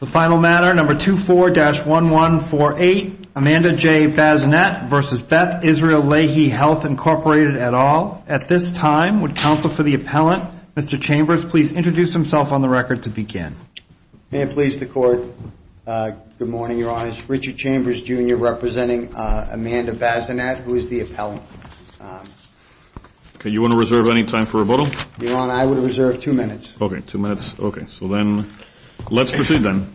The final matter, number 24-1148, Amanda J. Bazinet v. Beth Israel Lahey Health, Inc. At this time, would counsel for the appellant, Mr. Chambers, please introduce himself on the record to begin. May it please the Court, good morning, Your Honor. Richard Chambers, Jr., representing Amanda Bazinet, who is the appellant. You want to reserve any time for rebuttal? Your Honor, I would reserve two minutes. Okay, two minutes. Okay, so then, let's proceed then.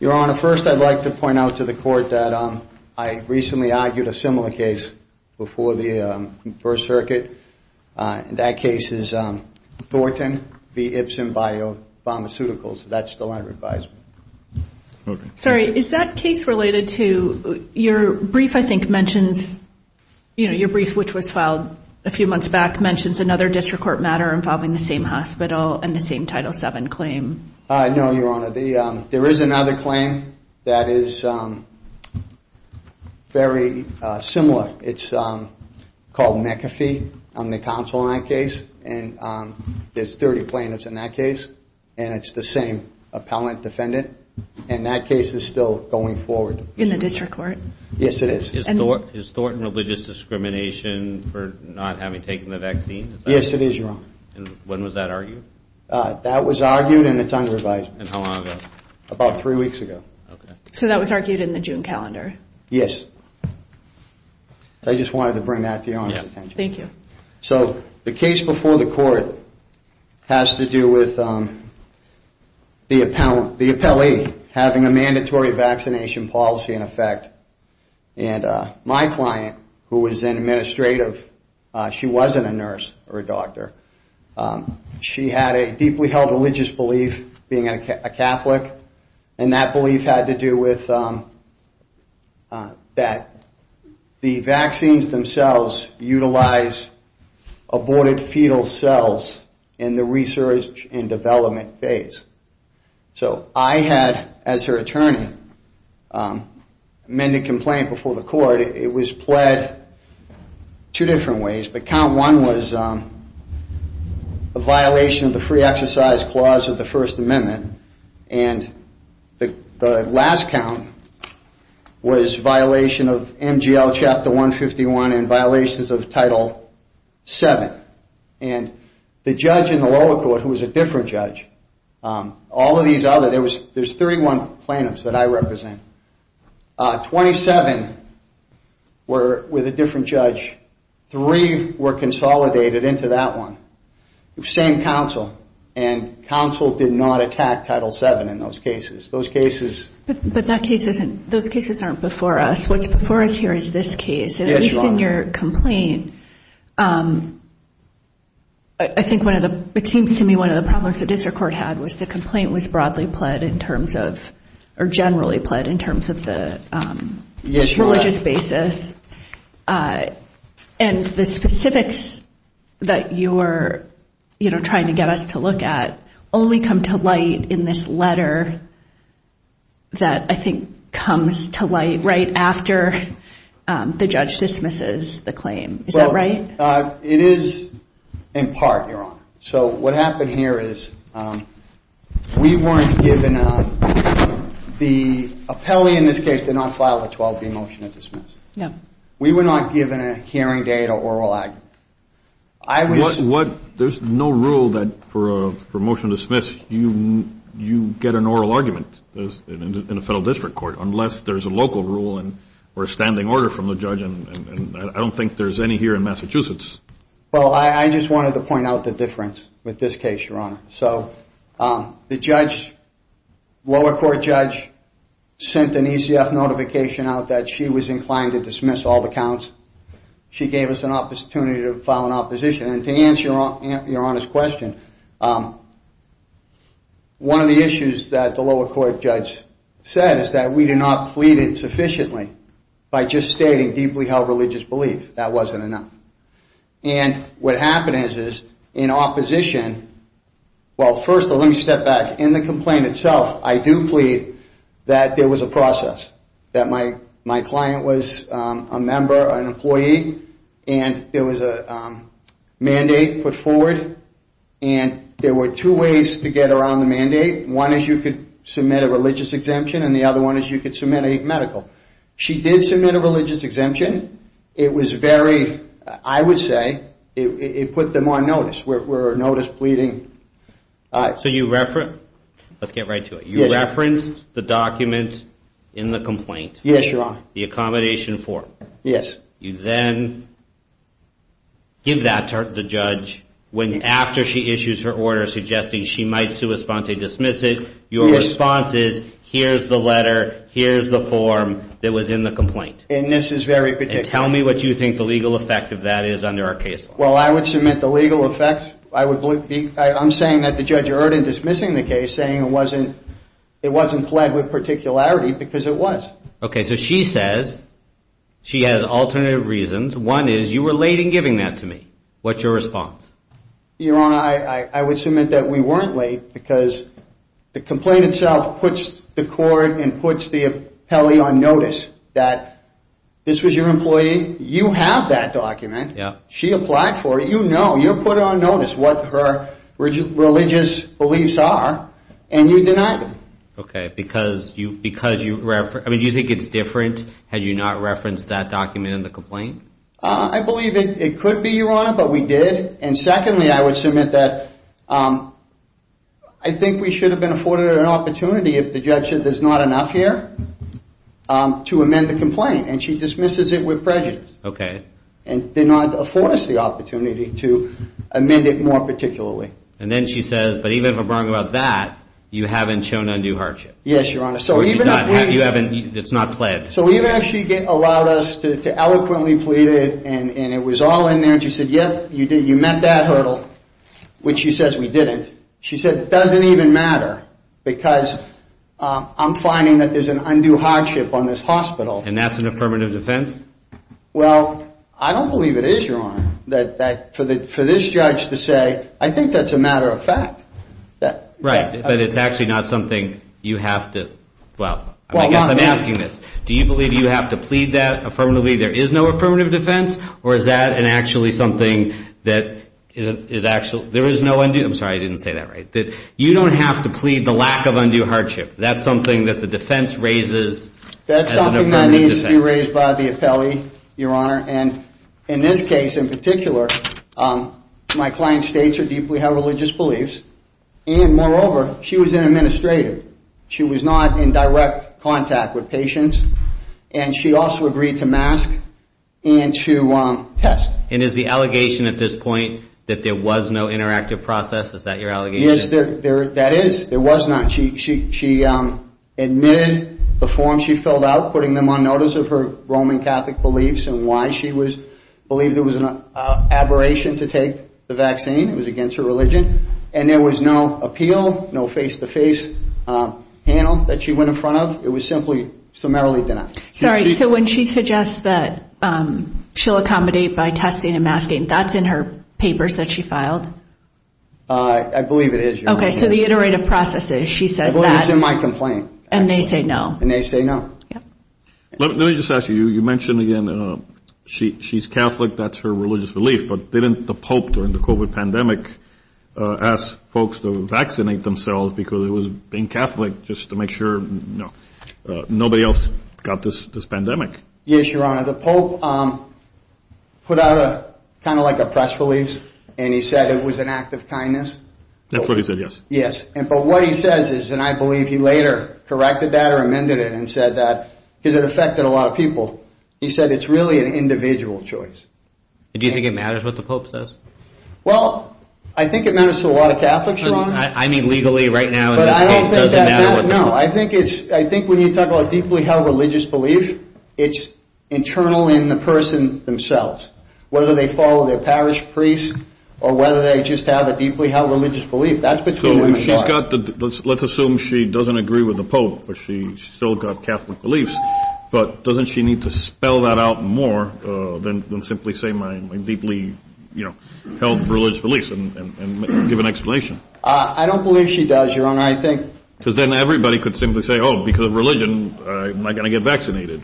Your Honor, first, I'd like to point out to the Court that I recently argued a similar case before the First Circuit, and that case is Thornton v. Ipsen Biopharmaceuticals. That's still under advisement. Okay. Sorry, is that case related to your brief, I think, mentions, you know, your brief, which was filed a few months back, mentions another district court matter involving the same hospital and the same Title VII claim. No, Your Honor. There is another claim that is very similar. It's called McAfee on the counsel line case, and there's 30 plaintiffs in that case, and it's the same appellant defendant, and that case is still going forward. In the district court? Yes, it is. Is Thornton religious discrimination for not having taken the vaccine? Yes, it is, Your Honor. And when was that argued? That was argued, and it's under advisement. And how long ago? About three weeks ago. Okay. So that was argued in the June calendar? Yes. I just wanted to bring that to Your Honor's attention. Thank you. So, the case before the Court has to do with the appellee having a mandatory vaccination policy in effect, and my client, who is an administrative, she wasn't a nurse or a doctor. She had a deeply held religious belief, being a Catholic, and that belief had to do with that the vaccines themselves utilize aborted fetal cells in the research and development phase. So I had, as her attorney, amended complaint before the Court. It was pled two different ways, but count one was a violation of the free exercise clause of the First Amendment, and the last count was violation of MGL Chapter 151 and violations of Title VII. And the judge in the lower court, who was a different judge, all of these other, there's 31 plaintiffs that I represent, 27 were with a different judge, three were consolidated into that one, same counsel, and counsel did not attack Title VII in those cases. Those cases... But that case isn't, those cases aren't before us. What's before us here is this case. Yes, Your Honor. But in your complaint, I think one of the, it seems to me one of the problems the district court had was the complaint was broadly pled in terms of, or generally pled in terms of the religious basis. And the specifics that you were trying to get us to look at only come to light in this letter that I think comes to light right after the judge dismisses the claim. Is that right? Well, it is in part, Your Honor. So what happened here is we weren't given a, the appellee in this case did not file a 12-B motion to dismiss. We were not given a hearing date or oral argument. I was... What, there's no rule that for a motion to dismiss, you get an oral argument in a federal district court, unless there's a local rule or a standing order from the judge and I don't think there's any here in Massachusetts. Well, I just wanted to point out the difference with this case, Your Honor. So the judge, lower court judge, sent an ECF notification out that she was inclined to dismiss all the counts. She gave us an opportunity to file an opposition and to answer Your Honor's question, one of the issues that the lower court judge said is that we did not plead it sufficiently by just stating deeply held religious belief. That wasn't enough. And what happened is, in opposition, well, first, let me step back. In the complaint itself, I do plead that there was a process, that my client was a member or an employee and there was a mandate put forward and there were two ways to get around the mandate. One is you could submit a religious exemption and the other one is you could submit a medical. She did submit a religious exemption. It was very, I would say, it put them on notice. We're notice pleading. So you referenced, let's get right to it, you referenced the document in the complaint? Yes, Your Honor. The accommodation form? Yes. You then give that to the judge when, after she issues her order suggesting she might sui sponte dismiss it, your response is, here's the letter, here's the form that was in the complaint. And this is very particular. And tell me what you think the legal effect of that is under our case law. Well, I would submit the legal effect, I'm saying that the judge erred in dismissing the case, saying it wasn't, it wasn't pled with particularity because it was. Okay, so she says, she has alternative reasons. One is you were late in giving that to me. What's your response? Your Honor, I would submit that we weren't late because the complaint itself puts the court and puts the appellee on notice that this was your employee, you have that document, she applied for it, you know, you put on notice what her religious beliefs are and you denied them. Okay, because you, because you, I mean, do you think it's different had you not referenced that document in the complaint? I believe it could be, Your Honor, but we did. And secondly, I would submit that I think we should have been afforded an opportunity if the judge said there's not enough here to amend the complaint and she dismisses it with prejudice. Okay. And did not afford us the opportunity to amend it more particularly. And then she says, but even if I'm wrong about that, you haven't shown undue hardship. Yes, Your Honor. So even if she allowed us to eloquently plead it and it was all in there and she said, yep, you met that hurdle, which she says we didn't. She said it doesn't even matter because I'm finding that there's an undue hardship on this hospital. And that's an affirmative defense? Well, I don't believe it is, Your Honor, that for this judge to say, I think that's a matter of fact. Right. But it's actually not something you have to, well, I guess I'm asking this. Do you believe you have to plead that affirmatively? There is no affirmative defense or is that an actually something that is actually, there is no undue, I'm sorry, I didn't say that right. You don't have to plead the lack of undue hardship. That's something that the defense raises as an affirmative defense. That needs to be raised by the appellee, Your Honor. And in this case in particular, my client states her deeply held religious beliefs and moreover she was an administrator. She was not in direct contact with patients and she also agreed to mask and to test. And is the allegation at this point that there was no interactive process? Is that your allegation? Yes, that is. There was not. She admitted the form she filled out, putting them on notice of her Roman Catholic beliefs and why she believed there was an aberration to take the vaccine, it was against her religion. And there was no appeal, no face-to-face panel that she went in front of. It was simply summarily denied. Sorry, so when she suggests that she'll accommodate by testing and masking, that's in her papers that she filed? I believe it is, Your Honor. Okay. And according to the iterative processes, she says that. It's in my complaint. And they say no. And they say no. Yep. Let me just ask you, you mentioned again she's Catholic, that's her religious belief, but didn't the Pope during the COVID pandemic ask folks to vaccinate themselves because it was being Catholic just to make sure nobody else got this pandemic? Yes, Your Honor, the Pope put out a kind of like a press release and he said it was an act of kindness. That's what he said, yes. But what he says is, and I believe he later corrected that or amended it and said that because it affected a lot of people, he said it's really an individual choice. Do you think it matters what the Pope says? Well, I think it matters to a lot of Catholics, Your Honor. I mean legally right now in this case, it doesn't matter what the Pope says. No, I think when you talk about a deeply held religious belief, it's internal in the person themselves. Whether they follow their parish priest or whether they just have a deeply held religious belief, that's between them and God. Let's assume she doesn't agree with the Pope, but she's still got Catholic beliefs, but doesn't she need to spell that out more than simply say my deeply held religious beliefs and give an explanation? I don't believe she does, Your Honor, I think... Because then everybody could simply say, oh, because of religion, I'm not going to get vaccinated.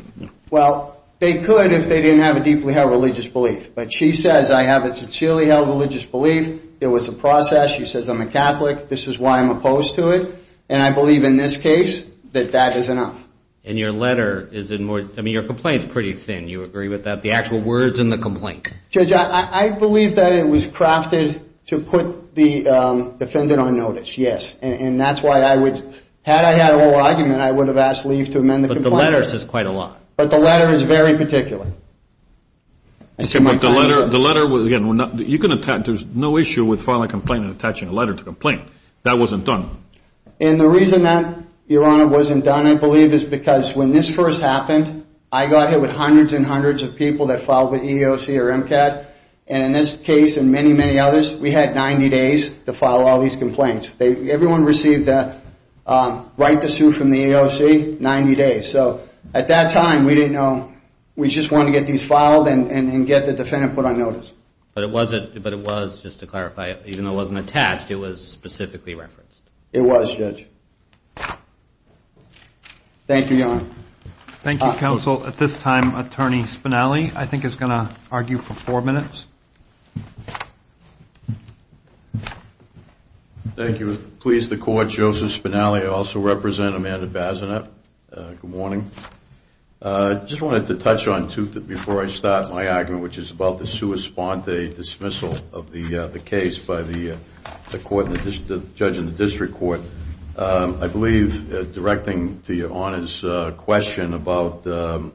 Well, they could if they didn't have a deeply held religious belief, but she says I have a sincerely held religious belief. It was a process. She says I'm a Catholic. This is why I'm opposed to it. And I believe in this case that that is enough. And your letter is in more, I mean, your complaint is pretty thin. You agree with that? The actual words in the complaint? Judge, I believe that it was crafted to put the defendant on notice, yes. And that's why I would, had I had a whole argument, I would have asked leave to amend the complaint. But the letter says quite a lot. But the letter is very particular. The letter, again, you can attach, there's no issue with filing a complaint and attaching a letter to a complaint. That wasn't done. And the reason that, Your Honor, wasn't done, I believe, is because when this first happened, I got hit with hundreds and hundreds of people that filed with EEOC or MCAT, and in this case and many, many others, we had 90 days to file all these complaints. Everyone received a right to sue from the EEOC, 90 days. So at that time, we didn't know, we just wanted to get these filed and get the defendant put on notice. But it wasn't, but it was, just to clarify, even though it wasn't attached, it was specifically referenced? It was, Judge. Thank you, Your Honor. Thank you, Counsel. At this time, Attorney Spinelli, I think, is going to argue for four minutes. Thank you. I would like to please the Court, Joseph Spinelli, I also represent Amanda Bazenet. Good morning. I just wanted to touch on two, before I start my argument, which is about the sua sponte dismissal of the case by the court, the judge in the district court. I believe, directing to Your Honor's question about the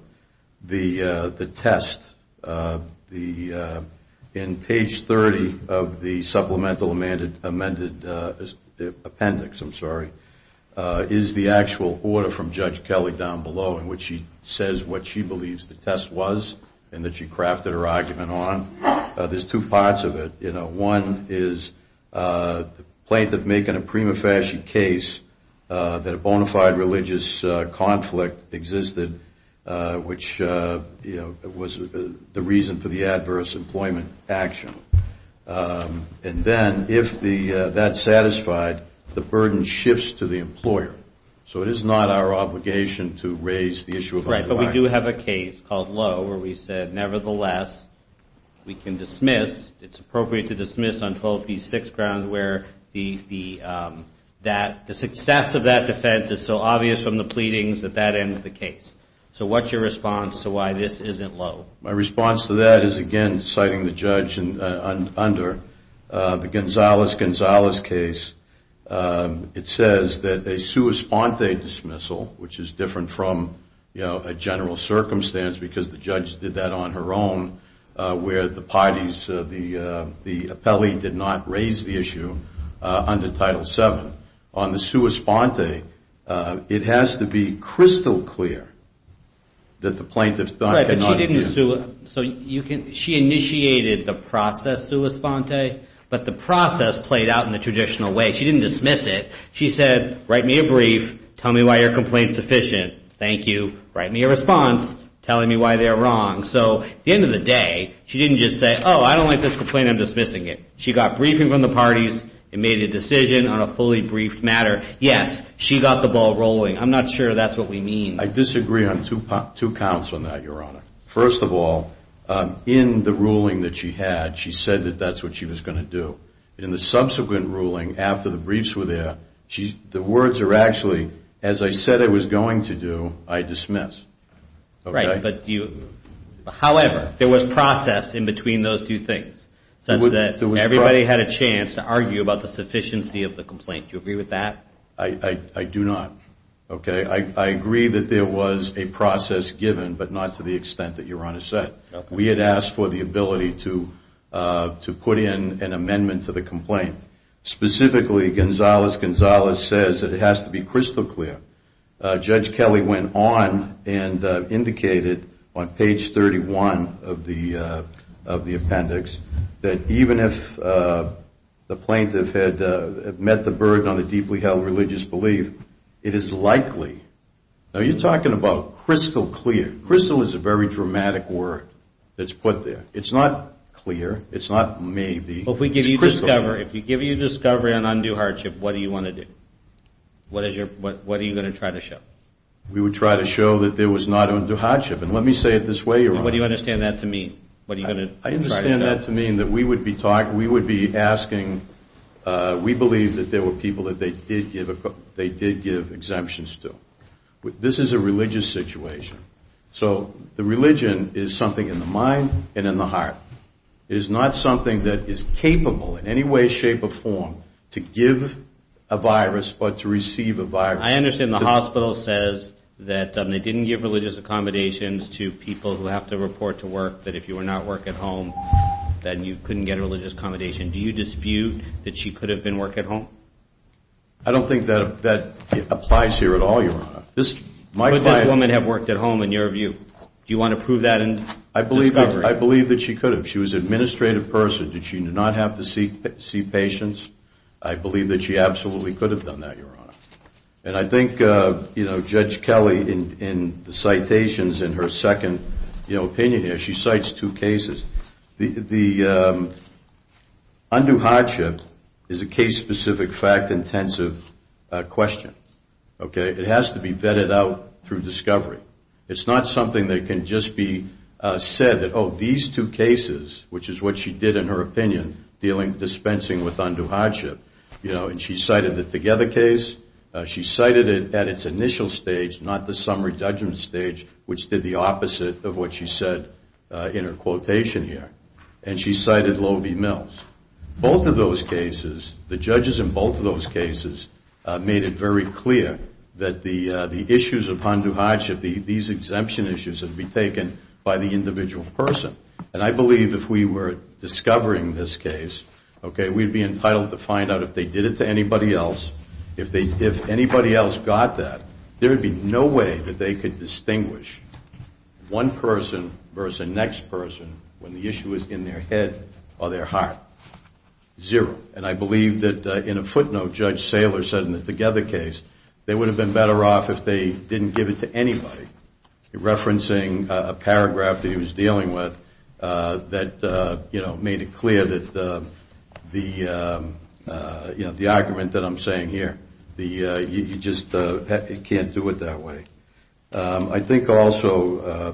test, in page 30 of the supplemental amended appendix, I'm sorry, is the actual order from Judge Kelly down below in which she says what she believes the test was and that she crafted her argument on. There's two parts of it. One is the plaintiff making a prima facie case that a bona fide religious conflict existed, which was the reason for the adverse employment action. And then, if that's satisfied, the burden shifts to the employer. So it is not our obligation to raise the issue of... Right. But we do have a case called Lowe where we said, nevertheless, we can dismiss, it's appropriate to dismiss on both these six grounds where the success of that defense is so obvious from the pleadings that that ends the case. So what's your response to why this isn't Lowe? My response to that is, again, citing the judge under the Gonzales-Gonzales case. It says that a sua sponte dismissal, which is different from a general circumstance because the judge did that on her own where the parties, the appellee did not raise the issue under Title VII. On the sua sponte, it has to be crystal clear that the plaintiff thought... But she initiated the process sua sponte, but the process played out in the traditional way. She didn't dismiss it. She said, write me a brief, tell me why your complaint's sufficient. Thank you. Write me a response telling me why they're wrong. So at the end of the day, she didn't just say, oh, I don't like this complaint, I'm dismissing it. She got briefing from the parties and made a decision on a fully briefed matter. Yes, she got the ball rolling. I'm not sure that's what we mean. I disagree on two counts on that, Your Honor. First of all, in the ruling that she had, she said that that's what she was going to do. In the subsequent ruling, after the briefs were there, the words are actually, as I said I was going to do, I dismiss. Right. However, there was process in between those two things such that everybody had a chance to argue about the sufficiency of the complaint. Do you agree with that? I do not. Okay? I agree that there was a process given, but not to the extent that Your Honor said. We had asked for the ability to put in an amendment to the complaint. Specifically, Gonzalez-Gonzalez says that it has to be crystal clear. Judge Kelly went on and indicated on page 31 of the appendix that even if the plaintiff had met the burden on a deeply held religious belief, it is likely. Now, you're talking about crystal clear. Crystal is a very dramatic word that's put there. It's not clear. It's not maybe. It's crystal clear. Well, if we give you discovery on undue hardship, what do you want to do? What are you going to try to show? We would try to show that there was not undue hardship, and let me say it this way, Your What do you understand that to mean? What are you going to try to show? We understand that to mean that we would be asking, we believe that there were people that they did give exemptions to. This is a religious situation. So the religion is something in the mind and in the heart. It is not something that is capable in any way, shape, or form to give a virus but to receive a virus. I understand the hospital says that they didn't give religious accommodations to people who have to report to work, that if you were not working at home, then you couldn't get a religious accommodation. Do you dispute that she could have been working at home? I don't think that applies here at all, Your Honor. Could this woman have worked at home, in your view? Do you want to prove that in discovery? I believe that she could have. She was an administrative person. Did she not have to see patients? I believe that she absolutely could have done that, Your Honor. And I think Judge Kelly, in the citations in her second opinion here, she cites two cases. The undue hardship is a case-specific, fact-intensive question. It has to be vetted out through discovery. It's not something that can just be said that, oh, these two cases, which is what she did in her opinion, dealing, dispensing with undue hardship. And she cited the Together case. She cited it at its initial stage, not the summary judgment stage, which did the opposite of what she said in her quotation here. And she cited Loewe v. Mills. Both of those cases, the judges in both of those cases made it very clear that the issues of undue hardship, these exemption issues, would be taken by the individual person. And I believe if we were discovering this case, we'd be entitled to find out if they did it to anybody else. If anybody else got that, there would be no way that they could distinguish one person versus the next person when the issue is in their head or their heart. Zero. And I believe that, in a footnote, Judge Saylor said in the Together case, they would have been better off if they didn't give it to anybody, referencing a paragraph that he was dealing with that made it clear that the argument that I'm saying here, you just can't do it that way. I think also,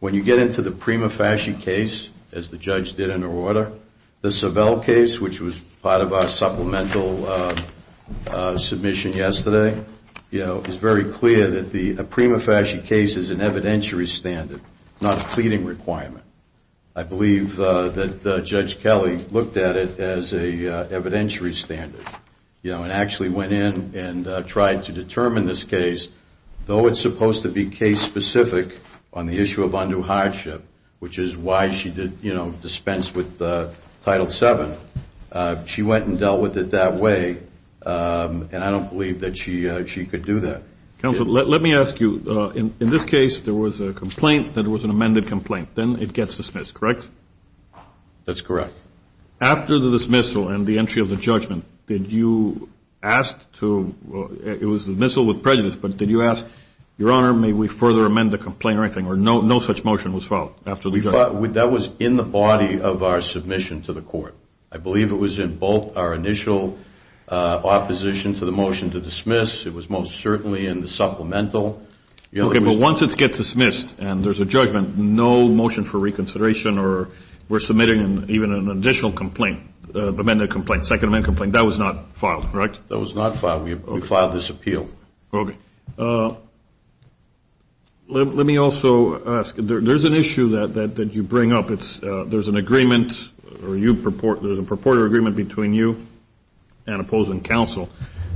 when you get into the Prima Fasci case, as the judge did in her order, the Savelle case, which was part of our supplemental submission yesterday, is very clear that the Prima Fasci case is an evidentiary standard, not a pleading requirement. I believe that Judge Kelly looked at it as a evidentiary standard and actually went in and tried to determine this case. Though it's supposed to be case-specific on the issue of undue hardship, which is why she dispensed with Title VII, she went and dealt with it that way. And I don't believe that she could do that. Counsel, let me ask you. In this case, there was a complaint that it was an amended complaint. Then it gets dismissed, correct? That's correct. After the dismissal and the entry of the judgment, did you ask to, it was the dismissal with prejudice, but did you ask, your honor, may we further amend the complaint or anything? Or no such motion was filed after the judgment? That was in the body of our submission to the court. I believe it was in both our initial opposition to the motion to dismiss. It was most certainly in the supplemental. OK, but once it gets dismissed and there's a judgment, no motion for reconsideration or we're submitting even an additional complaint, amended complaint, second amendment complaint, that was not filed, correct? That was not filed. We filed this appeal. OK. Let me also ask, there's an issue that you bring up. There's an agreement, or there's a purported agreement between you and opposing counsel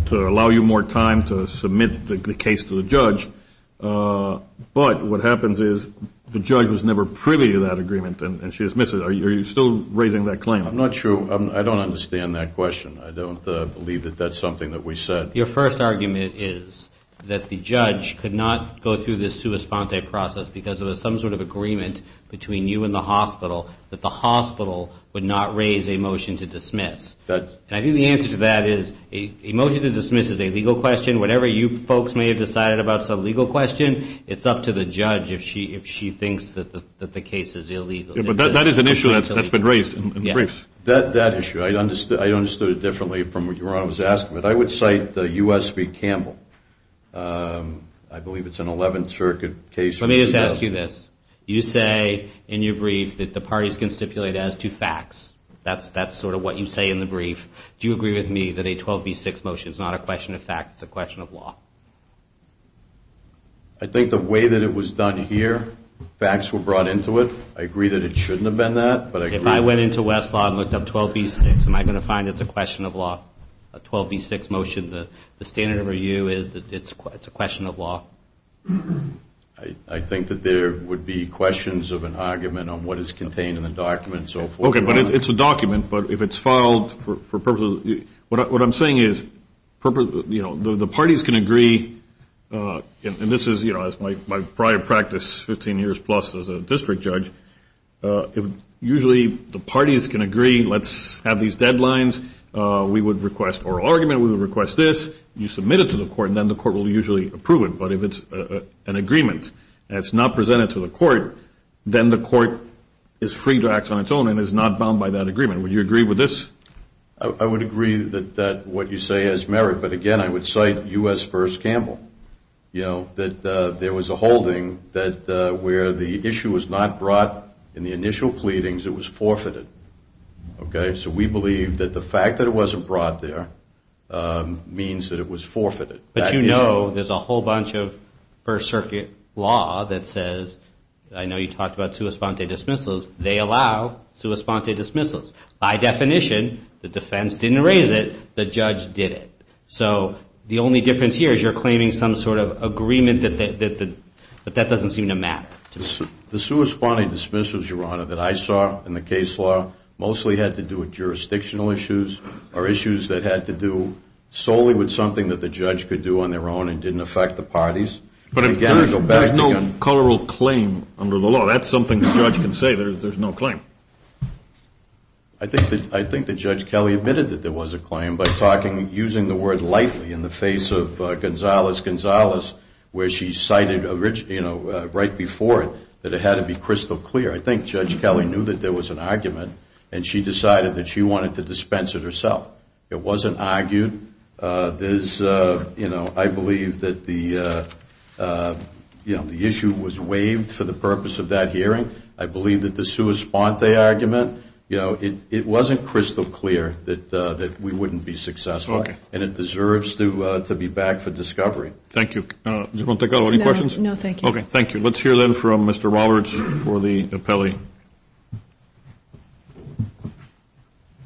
to allow you more time to submit the case to the judge. But what happens is the judge was never privy to that agreement and she dismisses it. Are you still raising that claim? I'm not sure. I don't understand that question. I don't believe that that's something that we said. Your first argument is that the judge could not go through this sua sponte process because there was some sort of agreement between you and the hospital that the hospital would not raise a motion to dismiss. I think the answer to that is a motion to dismiss is a legal question. Whatever you folks may have decided about is a legal question. It's up to the judge if she thinks that the case is illegal. But that is an issue that's been raised in the briefs. That issue, I understood it differently from what your honor was asking. I would cite the U.S. v. Campbell. I believe it's an 11th Circuit case. Let me just ask you this. You say in your brief that the parties can stipulate as to facts. That's sort of what you say in the brief. Do you agree with me that a 12b6 motion is not a question of facts, it's a question of law? I think the way that it was done here, facts were brought into it. I agree that it shouldn't have been that. If I went into Westlaw and looked up 12b6, am I going to find it's a question of law? A 12b6 motion, the standard of review is that it's a question of law. I think that there would be questions of an argument on what is contained in the document, so forth. Okay, but it's a document. But if it's filed for purposes of, what I'm saying is, the parties can agree, and this is my prior practice, 15 years plus as a district judge, usually the parties can agree, let's have these deadlines. We would request oral argument, we would request this. You submit it to the court and then the court will usually approve it. But if it's an agreement and it's not presented to the court, then the court is free to act on its own and is not bound by that agreement. Would you agree with this? I would agree that what you say has merit, but again, I would cite U.S. v. Campbell, you know, that there was a holding that where the issue was not brought in the initial pleadings, it was forfeited. Okay, so we believe that the fact that it wasn't brought there means that it was forfeited. But you know there's a whole bunch of First Circuit law that says, I know you talked about they allow sua sponte dismissals. By definition, the defense didn't raise it, the judge did it. So the only difference here is you're claiming some sort of agreement that that doesn't seem to matter. The sua sponte dismissals, Your Honor, that I saw in the case law mostly had to do with jurisdictional issues or issues that had to do solely with something that the judge could do on their own and didn't affect the parties. But there's no coloral claim under the law. So that's something the judge can say, there's no claim. I think that Judge Kelly admitted that there was a claim by talking, using the word lightly in the face of Gonzales-Gonzales, where she cited right before it that it had to be crystal clear. I think Judge Kelly knew that there was an argument and she decided that she wanted to dispense it herself. It wasn't argued. There's, you know, I believe that the issue was waived for the purpose of that hearing. I believe that the sua sponte argument, you know, it wasn't crystal clear that we wouldn't be successful. And it deserves to be back for discovery. Thank you. Do you want to take any questions? No, thank you. Okay, thank you. Let's hear then from Mr. Roberts for the appellee.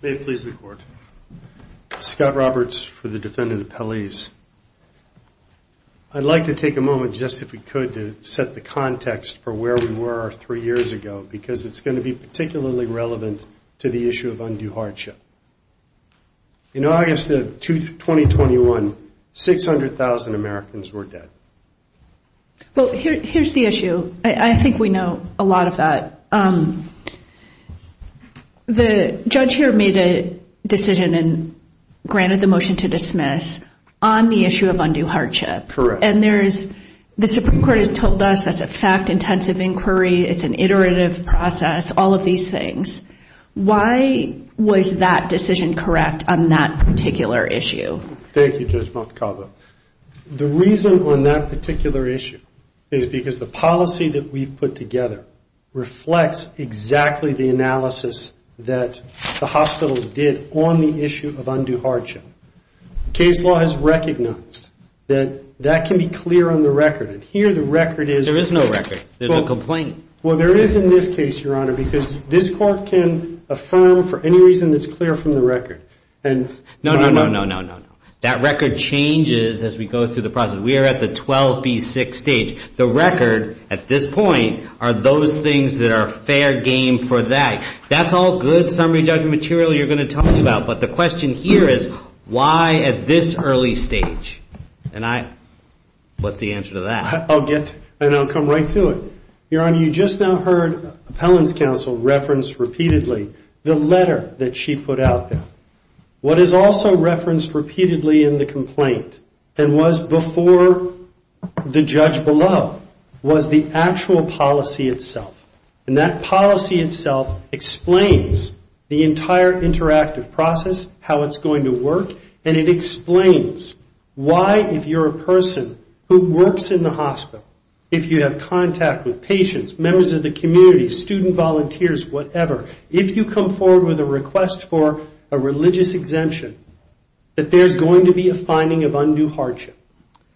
May it please the Court. Scott Roberts for the Defendant Appellees. I'd like to take a moment, just if we could, to set the context for where we were three years ago, because it's going to be particularly relevant to the issue of undue hardship. In August of 2021, 600,000 Americans were dead. Well, here's the issue. I think we know a lot of that. The judge here made a decision and granted the motion to dismiss on the issue of undue hardship. Correct. And there is, the Supreme Court has told us that's a fact-intensive inquiry. It's an iterative process, all of these things. Why was that decision correct on that particular issue? Thank you, Judge Montecalvo. The reason on that particular issue is because the policy that we've put together reflects exactly the analysis that the hospitals did on the issue of undue hardship. Case law has recognized that that can be clear on the record, and here the record is- There is no record. There's a complaint. Well, there is in this case, Your Honor, because this Court can affirm for any reason that's clear from the record. No, no, no, no, no, no. That record changes as we go through the process. We are at the 12B6 stage. The record at this point are those things that are fair game for that. That's all good summary judgment material you're going to tell me about, but the question here is why at this early stage? And I, what's the answer to that? I'll get, and I'll come right to it. Your Honor, you just now heard Appellant's counsel reference repeatedly the letter that she put out there. What is also referenced repeatedly in the complaint and was before the judge below was the actual policy itself, and that policy itself explains the entire interactive process, how it's going to work, and it explains why, if you're a person who works in the hospital, if you have contact with patients, members of the community, student volunteers, whatever, if you come forward with a request for a religious exemption, that there's going to be a finding of undue hardship,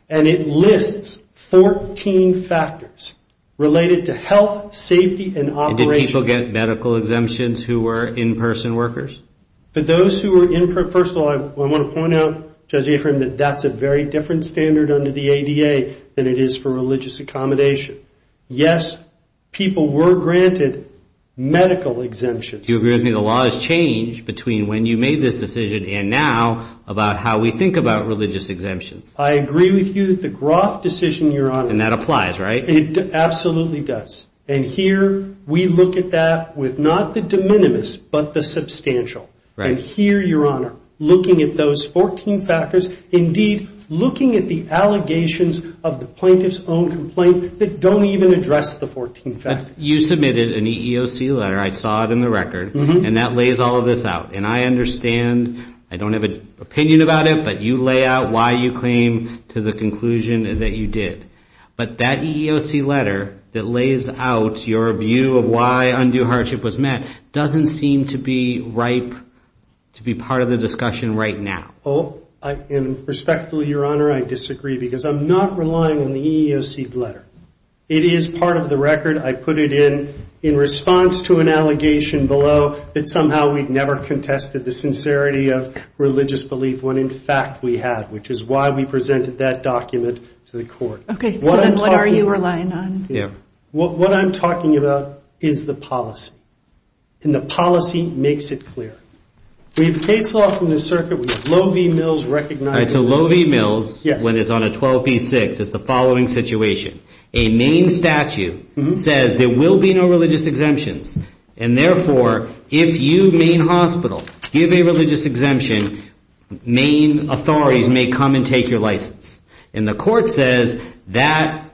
and it lists 14 factors related to health, safety, and operation. And did people get medical exemptions who were in-person workers? For those who were in-person, first of all, I want to point out, Judge Afrin, that that's a very different standard under the ADA than it is for religious accommodation. Yes, people were granted medical exemptions. Do you agree with me the law has changed between when you made this decision and now about how we think about religious exemptions? I agree with you that the Groth decision, Your Honor. And that applies, right? It absolutely does. And here we look at that with not the de minimis, but the substantial. And here, Your Honor, looking at those 14 factors, indeed looking at the allegations of the plaintiff's own complaint that don't even address the 14 factors. You submitted an EEOC letter, I saw it in the record, and that lays all of this out. And I understand, I don't have an opinion about it, but you lay out why you claim to the conclusion that you did. But that EEOC letter that lays out your view of why undue hardship was met doesn't seem to be ripe to be part of the discussion right now. Oh, and respectfully, Your Honor, I disagree, because I'm not relying on the EEOC letter. It is part of the record. I put it in in response to an allegation below that somehow we'd never contested the sincerity of religious belief when in fact we had, which is why we presented that document to the court. Okay, so then what are you relying on? What I'm talking about is the policy, and the policy makes it clear. We have a case law from the circuit, we have Loewe Mills recognizing this. All right, so Loewe Mills, when it's on a 12b6, it's the following situation. A Maine statute says there will be no religious exemptions, and therefore, if you, Maine Hospital, give a religious exemption, Maine authorities may come and take your license. And the court says that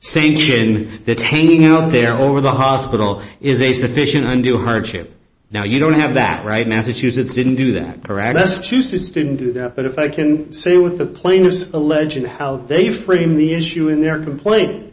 sanction that's hanging out there over the hospital is a sufficient undue hardship. Now, you don't have that, right? Massachusetts didn't do that, correct? Massachusetts didn't do that, but if I can say what the plaintiffs allege and how they frame the issue in their complaint,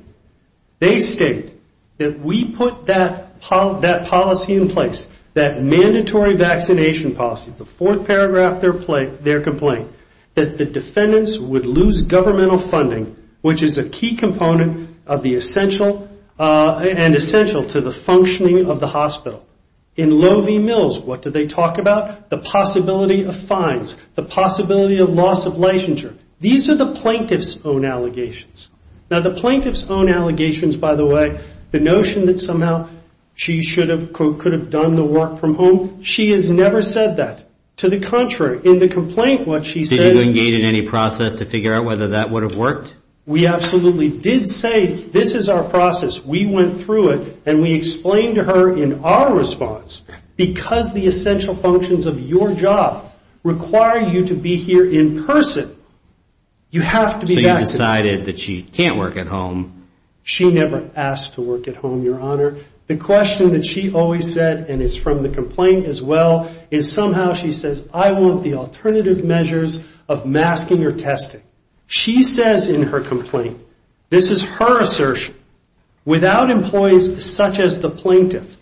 they state that we put that policy in place, that mandatory vaccination policy, the fourth paragraph, their complaint, that the defendants would lose governmental funding, which is a key component of the essential, and essential to the functioning of the hospital. In Loewe Mills, what did they talk about? The possibility of fines, the possibility of loss of licensure. These are the plaintiff's own allegations. Now, the plaintiff's own allegations, by the way, the notion that somehow she should have, could have done the work from home, she has never said that. To the contrary, in the complaint, what she says... Were you engaged in any process to figure out whether that would have worked? We absolutely did say, this is our process. We went through it, and we explained to her in our response, because the essential functions of your job require you to be here in person, you have to be vaccinated. So you decided that she can't work at home. She never asked to work at home, Your Honor. The question that she always said, and it's from the complaint as well, is somehow she says, I want the alternative measures of masking or testing. She says in her complaint, this is her assertion, without employees such as the plaintiff,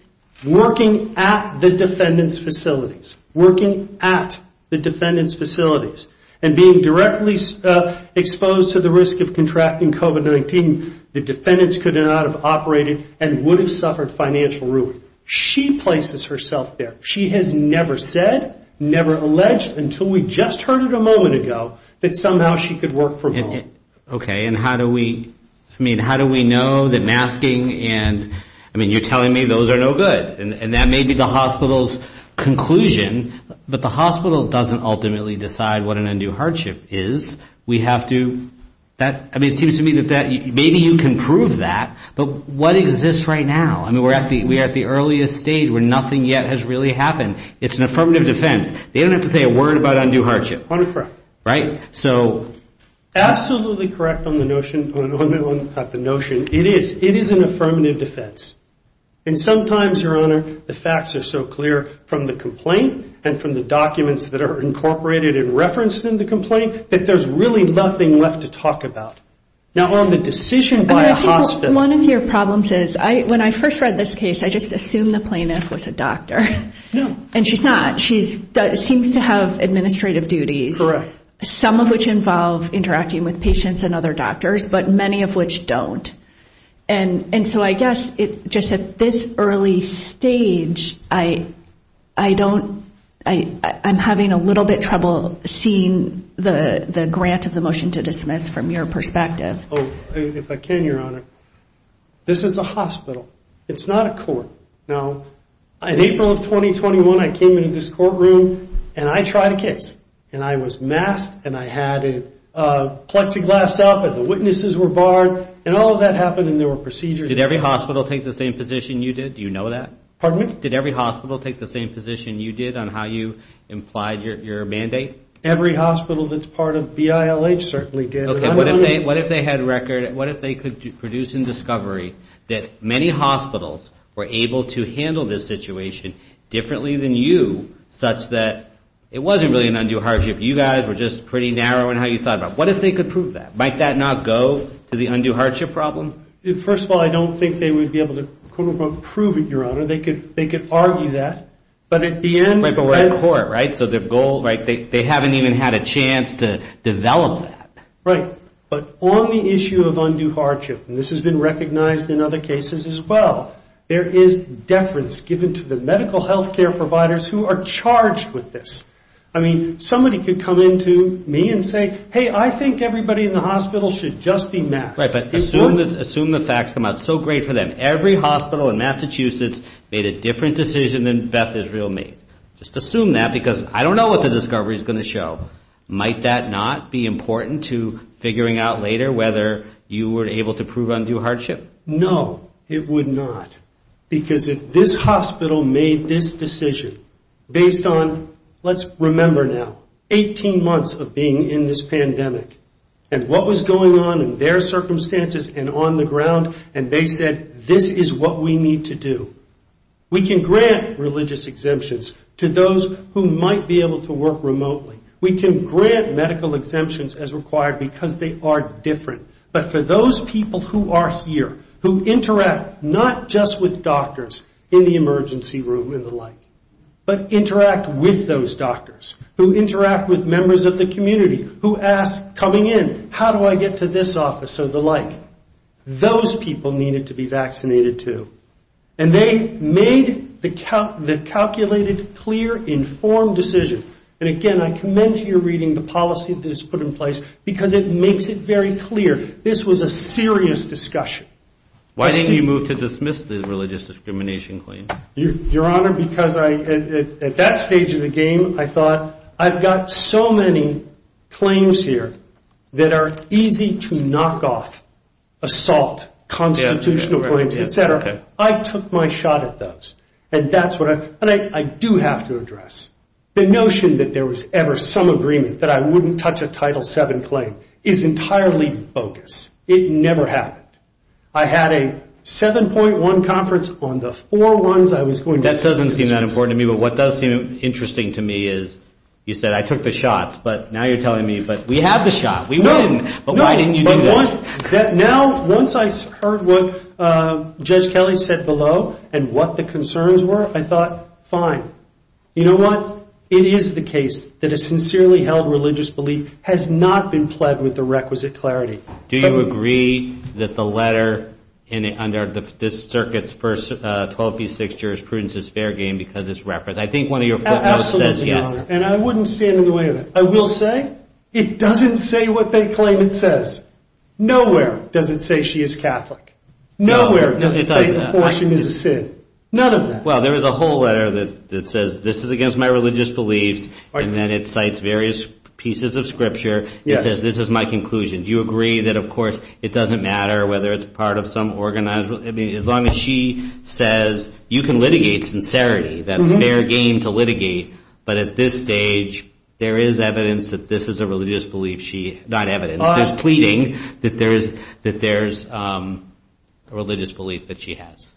working at the defendant's facilities, working at the defendant's facilities, and being directly exposed to the risk of contracting COVID-19, the defendants could not have operated and would have suffered financial ruin. She places herself there. She has never said, never alleged, until we just heard it a moment ago, that somehow she could work from home. Okay, and how do we... I mean, how do we know that masking and... I mean, you're telling me those are no good. And that may be the hospital's conclusion, but the hospital doesn't ultimately decide what an undue hardship is. We have to... I mean, it seems to me that maybe you can prove that, but what exists right now? I mean, we're at the earliest stage where nothing yet has really happened. It's an affirmative defense. They don't have to say a word about undue hardship. Honor, correct. Right? So... Absolutely correct on the notion, on the notion. It is, it is an affirmative defense. And sometimes, Your Honor, the facts are so clear from the complaint and from the documents that are incorporated and referenced in the complaint that there's really nothing left to talk about. Now, on the decision by a hospital... One of your problems is, when I first read this case, I just assumed the plaintiff was a doctor. No. And she's not. She seems to have administrative duties. Correct. Some of which involve interacting with patients and other doctors, but many of which don't. And so I guess, just at this early stage, I don't... I'm having a little bit trouble seeing the grant of the motion to dismiss from your perspective. Oh, if I can, Your Honor. This is a hospital. It's not a court. Now, in April of 2021, I came into this courtroom and I tried a case. And I was masked, and I had a plexiglass up, and the witnesses were barred, and all of that happened, and there were procedures... Did every hospital take the same position you did? Do you know that? Pardon me? Did every hospital take the same position you did on how you implied your mandate? Every hospital that's part of BILH certainly did. Okay, what if they had record? What if they could produce in discovery that many hospitals were able to handle this situation differently than you, such that it wasn't really an undue hardship? You guys were just pretty narrow in how you thought about it. What if they could prove that? Might that not go to the undue hardship problem? First of all, I don't think they would be able to, quote unquote, prove it, Your Honor. They could argue that. But at the end... Wait, but we're in court, right? So their goal, right? They haven't even had a chance to develop that. Right. But on the issue of undue hardship, and this has been recognized in other cases as well, there is deference given to the medical healthcare providers who are charged with this. I mean, somebody could come in to me and say, hey, I think everybody in the hospital should just be masked. Right, but assume the facts come out. It's so great for them. Every hospital in Massachusetts made a different decision than Beth Israel made. Just assume that, because I don't know what the discovery is going to show. Might that not be important to figuring out later whether you were able to prove undue hardship? No, it would not. Because if this hospital made this decision based on, let's remember now, 18 months of being in this pandemic, and what was going on in their circumstances and on the ground, and they said, this is what we need to do. We can grant religious exemptions to those who might be able to work remotely. We can grant medical exemptions as required because they are different. But for those people who are here, who interact not just with doctors in the emergency room and the like, but interact with those doctors, who interact with members of the community, who ask coming in, how do I get to this office or the like, those people needed to be vaccinated too. And they made the calculated, clear, informed decision. And again, I commend to your reading the policy that is put in place because it makes it very clear. This was a serious discussion. Why didn't you move to dismiss the religious discrimination claim? Your Honor, because at that stage of the game, I thought, I've got so many claims here that are easy to knock off, assault, constitutional claims, et cetera. I took my shot at those. And that's what I, and I do have to address. The notion that there was ever some agreement that I wouldn't touch a Title VII claim is entirely bogus. It never happened. I had a 7.1 conference on the four ones I was going to dismiss. That doesn't seem that important to me. But what does seem interesting to me is, you said, I took the shots. But now you're telling me, but we have the shot. We win. But why didn't you do that? Now, once I heard what Judge Kelly said below and what the concerns were, I thought, fine. You know what? It is the case that a sincerely held religious belief has not been pled with the requisite clarity. Do you agree that the letter under this circuit's first 12 v. 6 jurisprudence is fair game because it's referenced? I think one of your footnotes says yes. And I wouldn't stand in the way of it. I will say, it doesn't say what they claim it says. Nowhere does it say she is Catholic. Nowhere does it say abortion is a sin. None of that. Well, there is a whole letter that says, this is against my religious beliefs. And then it cites various pieces of scripture. It says, this is my conclusion. Do you agree that, of course, it doesn't matter whether it's part of some organized? I mean, as long as she says, you can litigate sincerity, that's fair game to litigate. But at this stage, there is evidence that this is a religious belief she, not evidence, there's pleading that there's a religious belief that she has.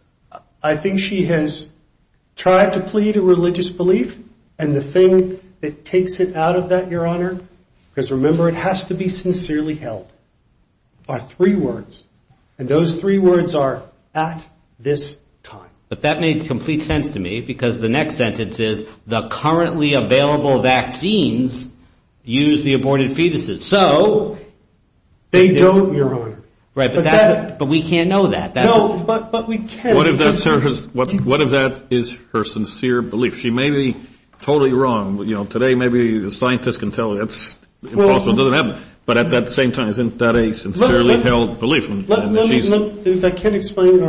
I think she has tried to plead a religious belief. And the thing that takes it out of that, Your Honor, because remember, it has to be sincerely held by three words. And those three words are, at this time. But that made complete sense to me because the next sentence is, the currently available vaccines use the aborted fetuses. So, they don't, Your Honor. Right, but that's, but we can't know that. No, but we can. What if that is her sincere belief? She may be totally wrong. You know, today, maybe the scientists can tell that's impossible, it doesn't happen. But at that same time, isn't that a sincerely held belief? Look, I can't explain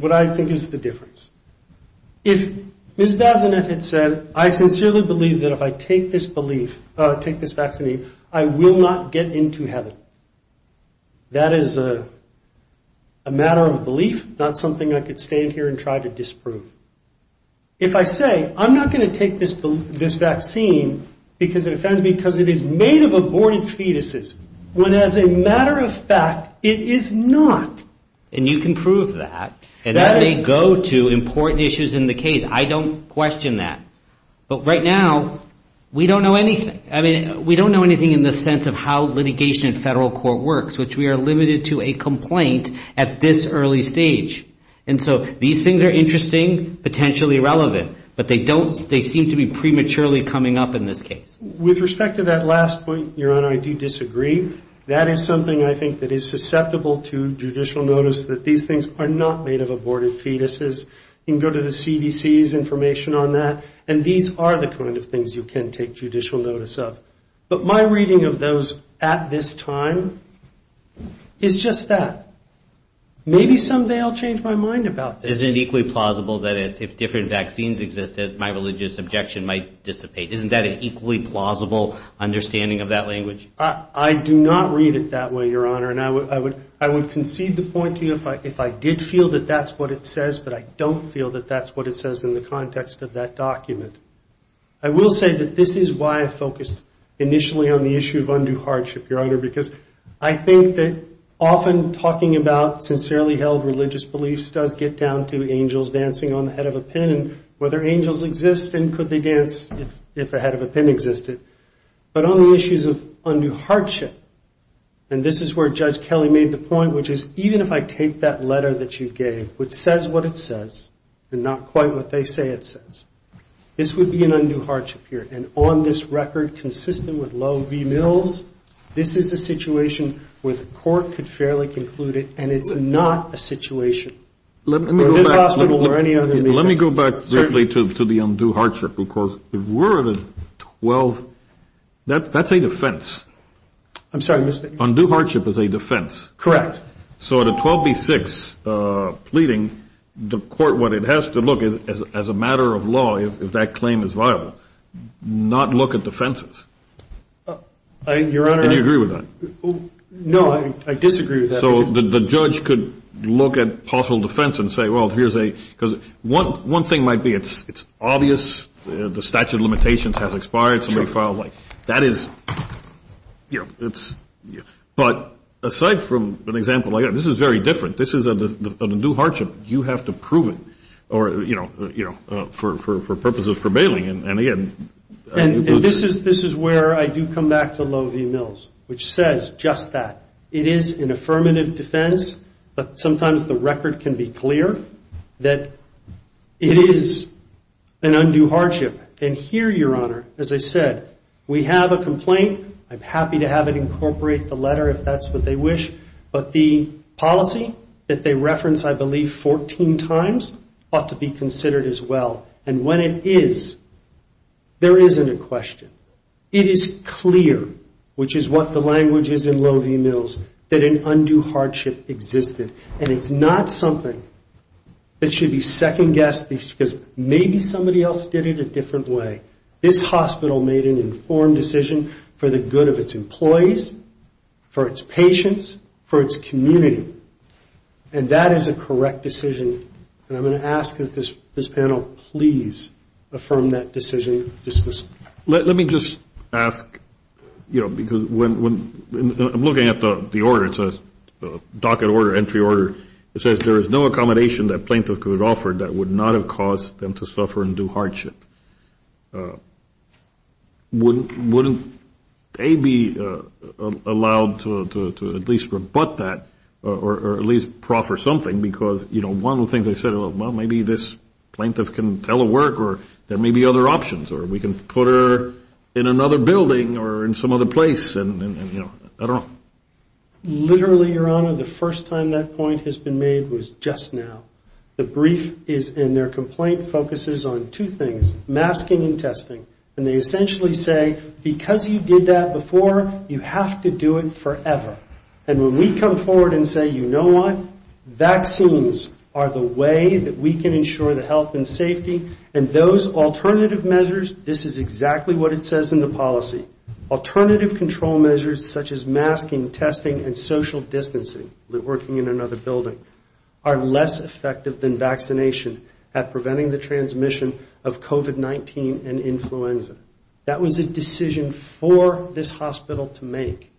what I think is the difference. If Ms. Bazinet had said, I sincerely believe that if I take this belief, take this vaccine, I will not get into heaven. That is a matter of belief, not something I could stand here and try to disprove. If I say, I'm not going to take this vaccine because it offends me, because it is made of aborted fetuses, when as a matter of fact, it is not. And you can prove that. And that may go to important issues in the case. I don't question that. But right now, we don't know anything. I mean, we don't know anything in the sense of how litigation in federal court works, which we are limited to a complaint at this early stage. And so these things are interesting, potentially relevant. But they don't, they seem to be prematurely coming up in this case. With respect to that last point, Your Honor, I do disagree. That is something I think that is susceptible to judicial notice, that these things are not made of aborted fetuses. You can go to the CDC's information on that. And these are the kind of things you can take judicial notice of. But my reading of those at this time is just that. Maybe someday I'll change my mind about this. Is it equally plausible that if different vaccines existed, my religious objection might dissipate? Isn't that an equally plausible understanding of that language? I do not read it that way, Your Honor. And I would concede the point to you if I did feel that that's what it says, but I don't feel that that's what it says in the context of that document. I will say that this is why I focused initially on the issue of undue hardship, Your Honor, because I think that often talking about sincerely held religious beliefs does get down to angels dancing on the head of a pin. And whether angels exist and could they dance if a head of a pin existed. But on the issues of undue hardship, and this is where Judge Kelly made the point, which is even if I take that letter that you gave, which says what it says, and not quite what they say it says, this would be an undue hardship here. And on this record, consistent with Lowe v. Mills, this is a situation where the court could fairly conclude it, and it's not a situation where this hospital or any other- Let me go back briefly to the undue hardship, because if we're at a 12, that's a defense. I'm sorry, Mr.- Undue hardship is a defense. Correct. So at a 12 v. 6 pleading, the court, what it has to look is, as a matter of law, if that claim is viable, not look at defenses. I, Your Honor- And you agree with that? No, I disagree with that. So the judge could look at possible defense and say, well, here's a, because one thing might be it's obvious, the statute of limitations has expired. Somebody filed, like, that is, you know, it's, but aside from an example like that, this is very different. This is an undue hardship. You have to prove it. Or, you know, for purposes of prevailing, and again- And this is where I do come back to Lowe v. Mills, which says just that. It is an affirmative defense, but sometimes the record can be clear that it is an undue hardship. And here, Your Honor, as I said, we have a complaint. I'm happy to have it incorporate the letter if that's what they wish. But the policy that they reference, I believe, 14 times, ought to be considered as well. And when it is, there isn't a question. It is clear, which is what the language is in Lowe v. Mills, that an undue hardship existed. And it's not something that should be second-guessed, because maybe somebody else did it a different way. This hospital made an informed decision for the good of its employees, for its patients, for its community. And that is a correct decision. And I'm going to ask that this panel please affirm that decision. Let me just ask, you know, because when I'm looking at the order, it's a docket order, entry order. It says there is no accommodation that plaintiff could have offered that would not have caused them to suffer an undue hardship. Wouldn't they be allowed to at least rebut that, or at least proffer something? Because, you know, one of the things they said, well, maybe this plaintiff can tell her work, or there may be other options. Or we can put her in another building, or in some other place. And, you know, I don't know. Literally, Your Honor, the first time that point has been made was just now. The brief is in their complaint focuses on two things, masking and testing. And they essentially say, because you did that before, you have to do it forever. And when we come forward and say, you know what? Vaccines are the way that we can ensure the health and safety. And those alternative measures, this is exactly what it says in the policy. Alternative control measures such as masking, testing, and social distancing, working in another building, are less effective than vaccination at preventing the transmission of COVID-19 and influenza. That was a decision for this hospital to make.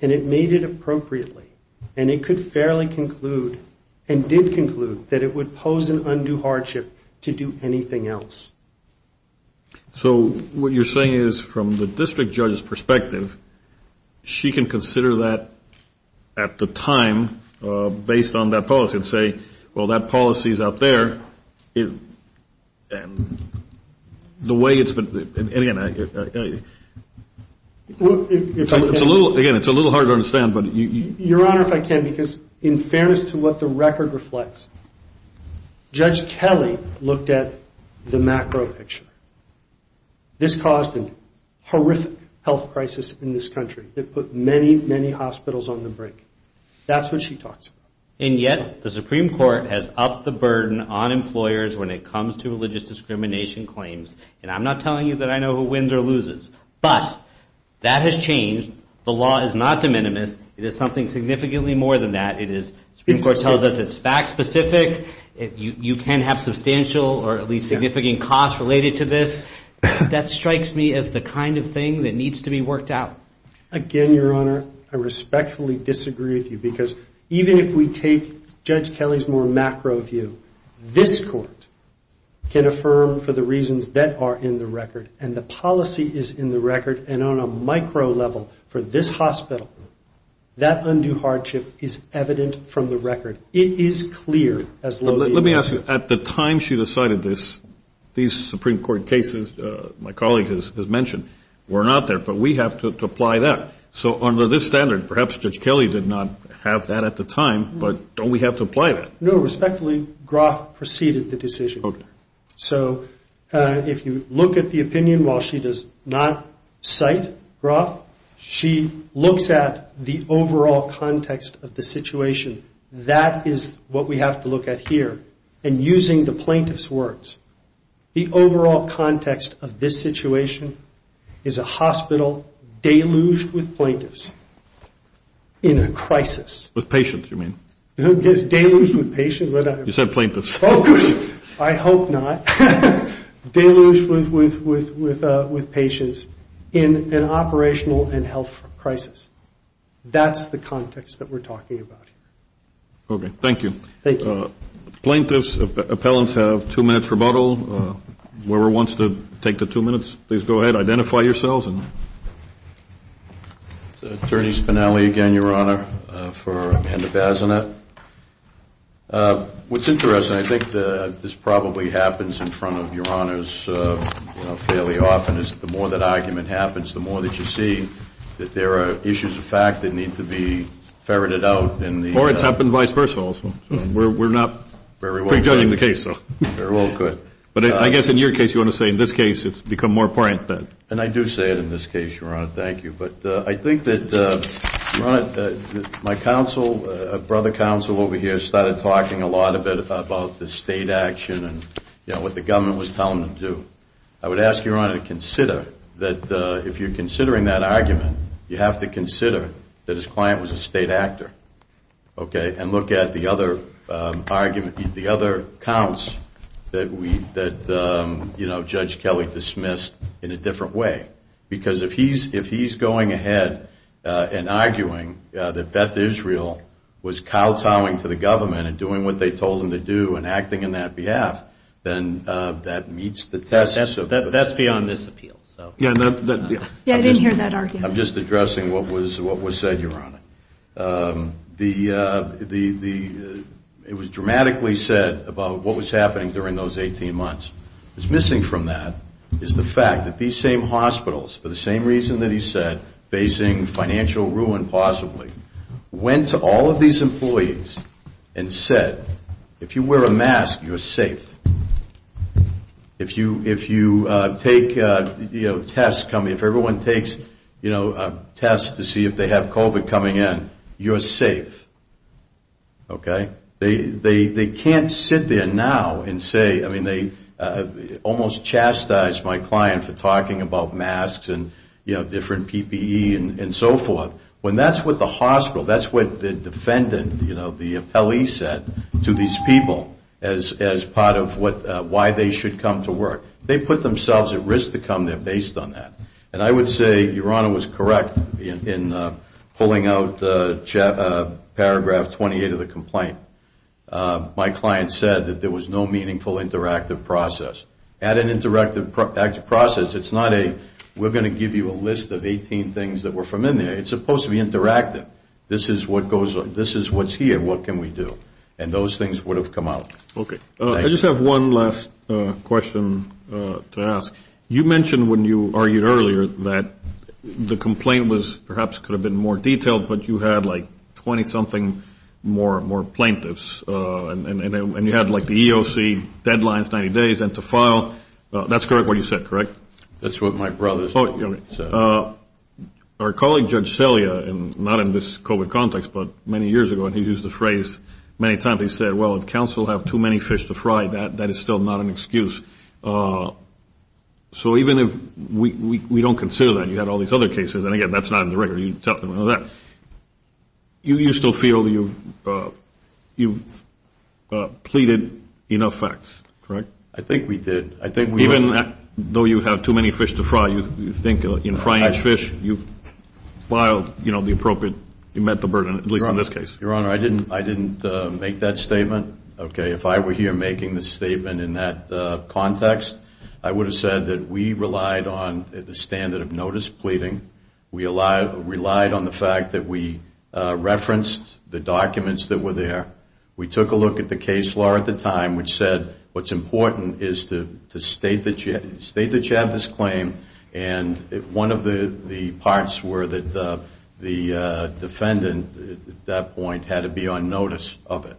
And it made it appropriately. And it could fairly conclude, and did conclude, that it would pose an undue hardship to do anything else. So what you're saying is, from the district judge's perspective, she can consider that at the time based on that policy and say, well, that policy is out there. And the way it's been, and again, it's a little hard to understand, but you. Your Honor, if I can, because in fairness to what the record reflects, Judge Kelly looked at the macro picture. This caused a horrific health crisis in this country that put many, many hospitals on the brink. That's what she talks about. And yet, the Supreme Court has upped the burden on employers when it comes to religious discrimination claims. And I'm not telling you that I know who wins or loses. But that has changed. The law is not de minimis. It is something significantly more than that. It is, the Supreme Court tells us it's fact specific. You can have substantial or at least significant costs related to this. That strikes me as the kind of thing that needs to be worked out. Again, Your Honor, I respectfully disagree with you. Because even if we take Judge Kelly's more macro view, this court can affirm for the reasons that are in the record. And the policy is in the record. And on a micro level for this hospital, that undue hardship is evident from the record. It is clear as low as it gets. Let me ask you, at the time she decided this, these Supreme Court cases, my colleague has mentioned, were not there. But we have to apply that. So under this standard, perhaps Judge Kelly did not have that at the time. But don't we have to apply that? No, respectfully, Groff preceded the decision. So if you look at the opinion, while she does not cite Groff, she looks at the overall context of the situation. That is what we have to look at here. And using the plaintiff's words, the overall context of this situation is a hospital deluged with plaintiffs in a crisis. With patients, you mean? Deluged with patients? You said plaintiffs. I hope not. Deluged with patients in an operational and health crisis. That's the context that we're talking about. OK. Thank you. Thank you. Plaintiffs, appellants have two minutes rebuttal. Whoever wants to take the two minutes, please go ahead. Identify yourselves. It's Attorney Spinelli again, Your Honor, for Amanda Bazinet. What's interesting, I think this probably happens in front of Your Honors fairly often, is the more that argument happens, the more that you see that there are issues of fact that need to be ferreted out in the- Or it's happened vice versa also. We're not prejudging the case, though. Very well, good. But I guess in your case, you want to say in this case, it's become more apparent that- And I do say it in this case, Your Honor. Thank you. But I think that, Your Honor, my brother counsel over here started talking a lot of it about the state action and what the government was telling them to do. I would ask, Your Honor, to consider that if you're considering that argument, you have to consider that his client was a state actor, OK? And look at the other counts that Judge Kelly dismissed in a different way. Because if he's going ahead and arguing that Beth Israel was kowtowing to the government and doing what they told him to do and acting in that behalf, then that meets the test of- That's beyond this appeal, so. Yeah, I didn't hear that argument. I'm just addressing what was said, Your Honor. It was dramatically said about what was happening during those 18 months. What's missing from that is the fact that these same hospitals, for the same reason that he said, facing financial ruin possibly, went to all of these employees and said, if you wear a mask, you're safe. If you take tests, if everyone takes tests to see if they have COVID coming in, you're safe, OK? They can't sit there now and say- I mean, they almost chastised my client for talking about masks and different PPE and so forth. When that's what the hospital, that's what the defendant, the appellee said to these people as part of why they should come to work. They put themselves at risk to come there based on that. And I would say Your Honor was correct in pulling out paragraph 28 of the complaint. My client said that there was no meaningful interactive process. At an interactive process, it's not a, we're going to give you a list of 18 things that were from in there. It's supposed to be interactive. This is what goes on. This is what's here. What can we do? And those things would have come out. I just have one last question to ask. You mentioned when you argued earlier that the complaint was perhaps could have been more detailed, but you had like 20-something more plaintiffs. And you had like the EOC deadlines, 90 days, and to file, that's correct what you said, correct? That's what my brother said. Our colleague, Judge Celia, and not in this COVID context, but many years ago, and he used the phrase many times, he said, well, if counsel have too many fish to fry, that is still not an excuse. So even if we don't consider that, you had all these other cases, and again, that's not in the record. You tell them that. You still feel that you've pleaded enough facts, correct? I think we did. I think we did. Even though you have too many fish to fry, you think in frying fish, you've filed the appropriate, you met the burden, at least in this case. Your Honor, I didn't make that statement. If I were here making this statement in that context, I would have said that we relied on the standard of notice pleading. We relied on the fact that we referenced the documents that were there. We took a look at the case law at the time, which said what's important is to state that you have this claim. And one of the parts were that the defendant at that point had to be on notice of it.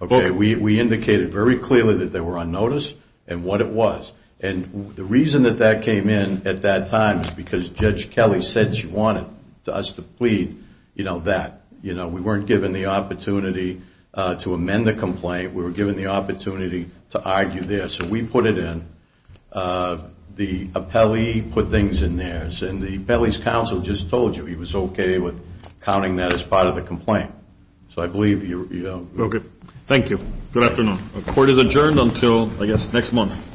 We indicated very clearly that they were on notice and what it was. And the reason that that came in at that time is because Judge Kelly said she wanted us to plead that. We weren't given the opportunity to amend the complaint. We were given the opportunity to argue there. So we put it in. The appellee put things in there. And the appellee's counsel just told you he was OK with counting that as part of the complaint. So I believe you know. OK. Thank you. Good afternoon. Court is adjourned until, I guess, next month.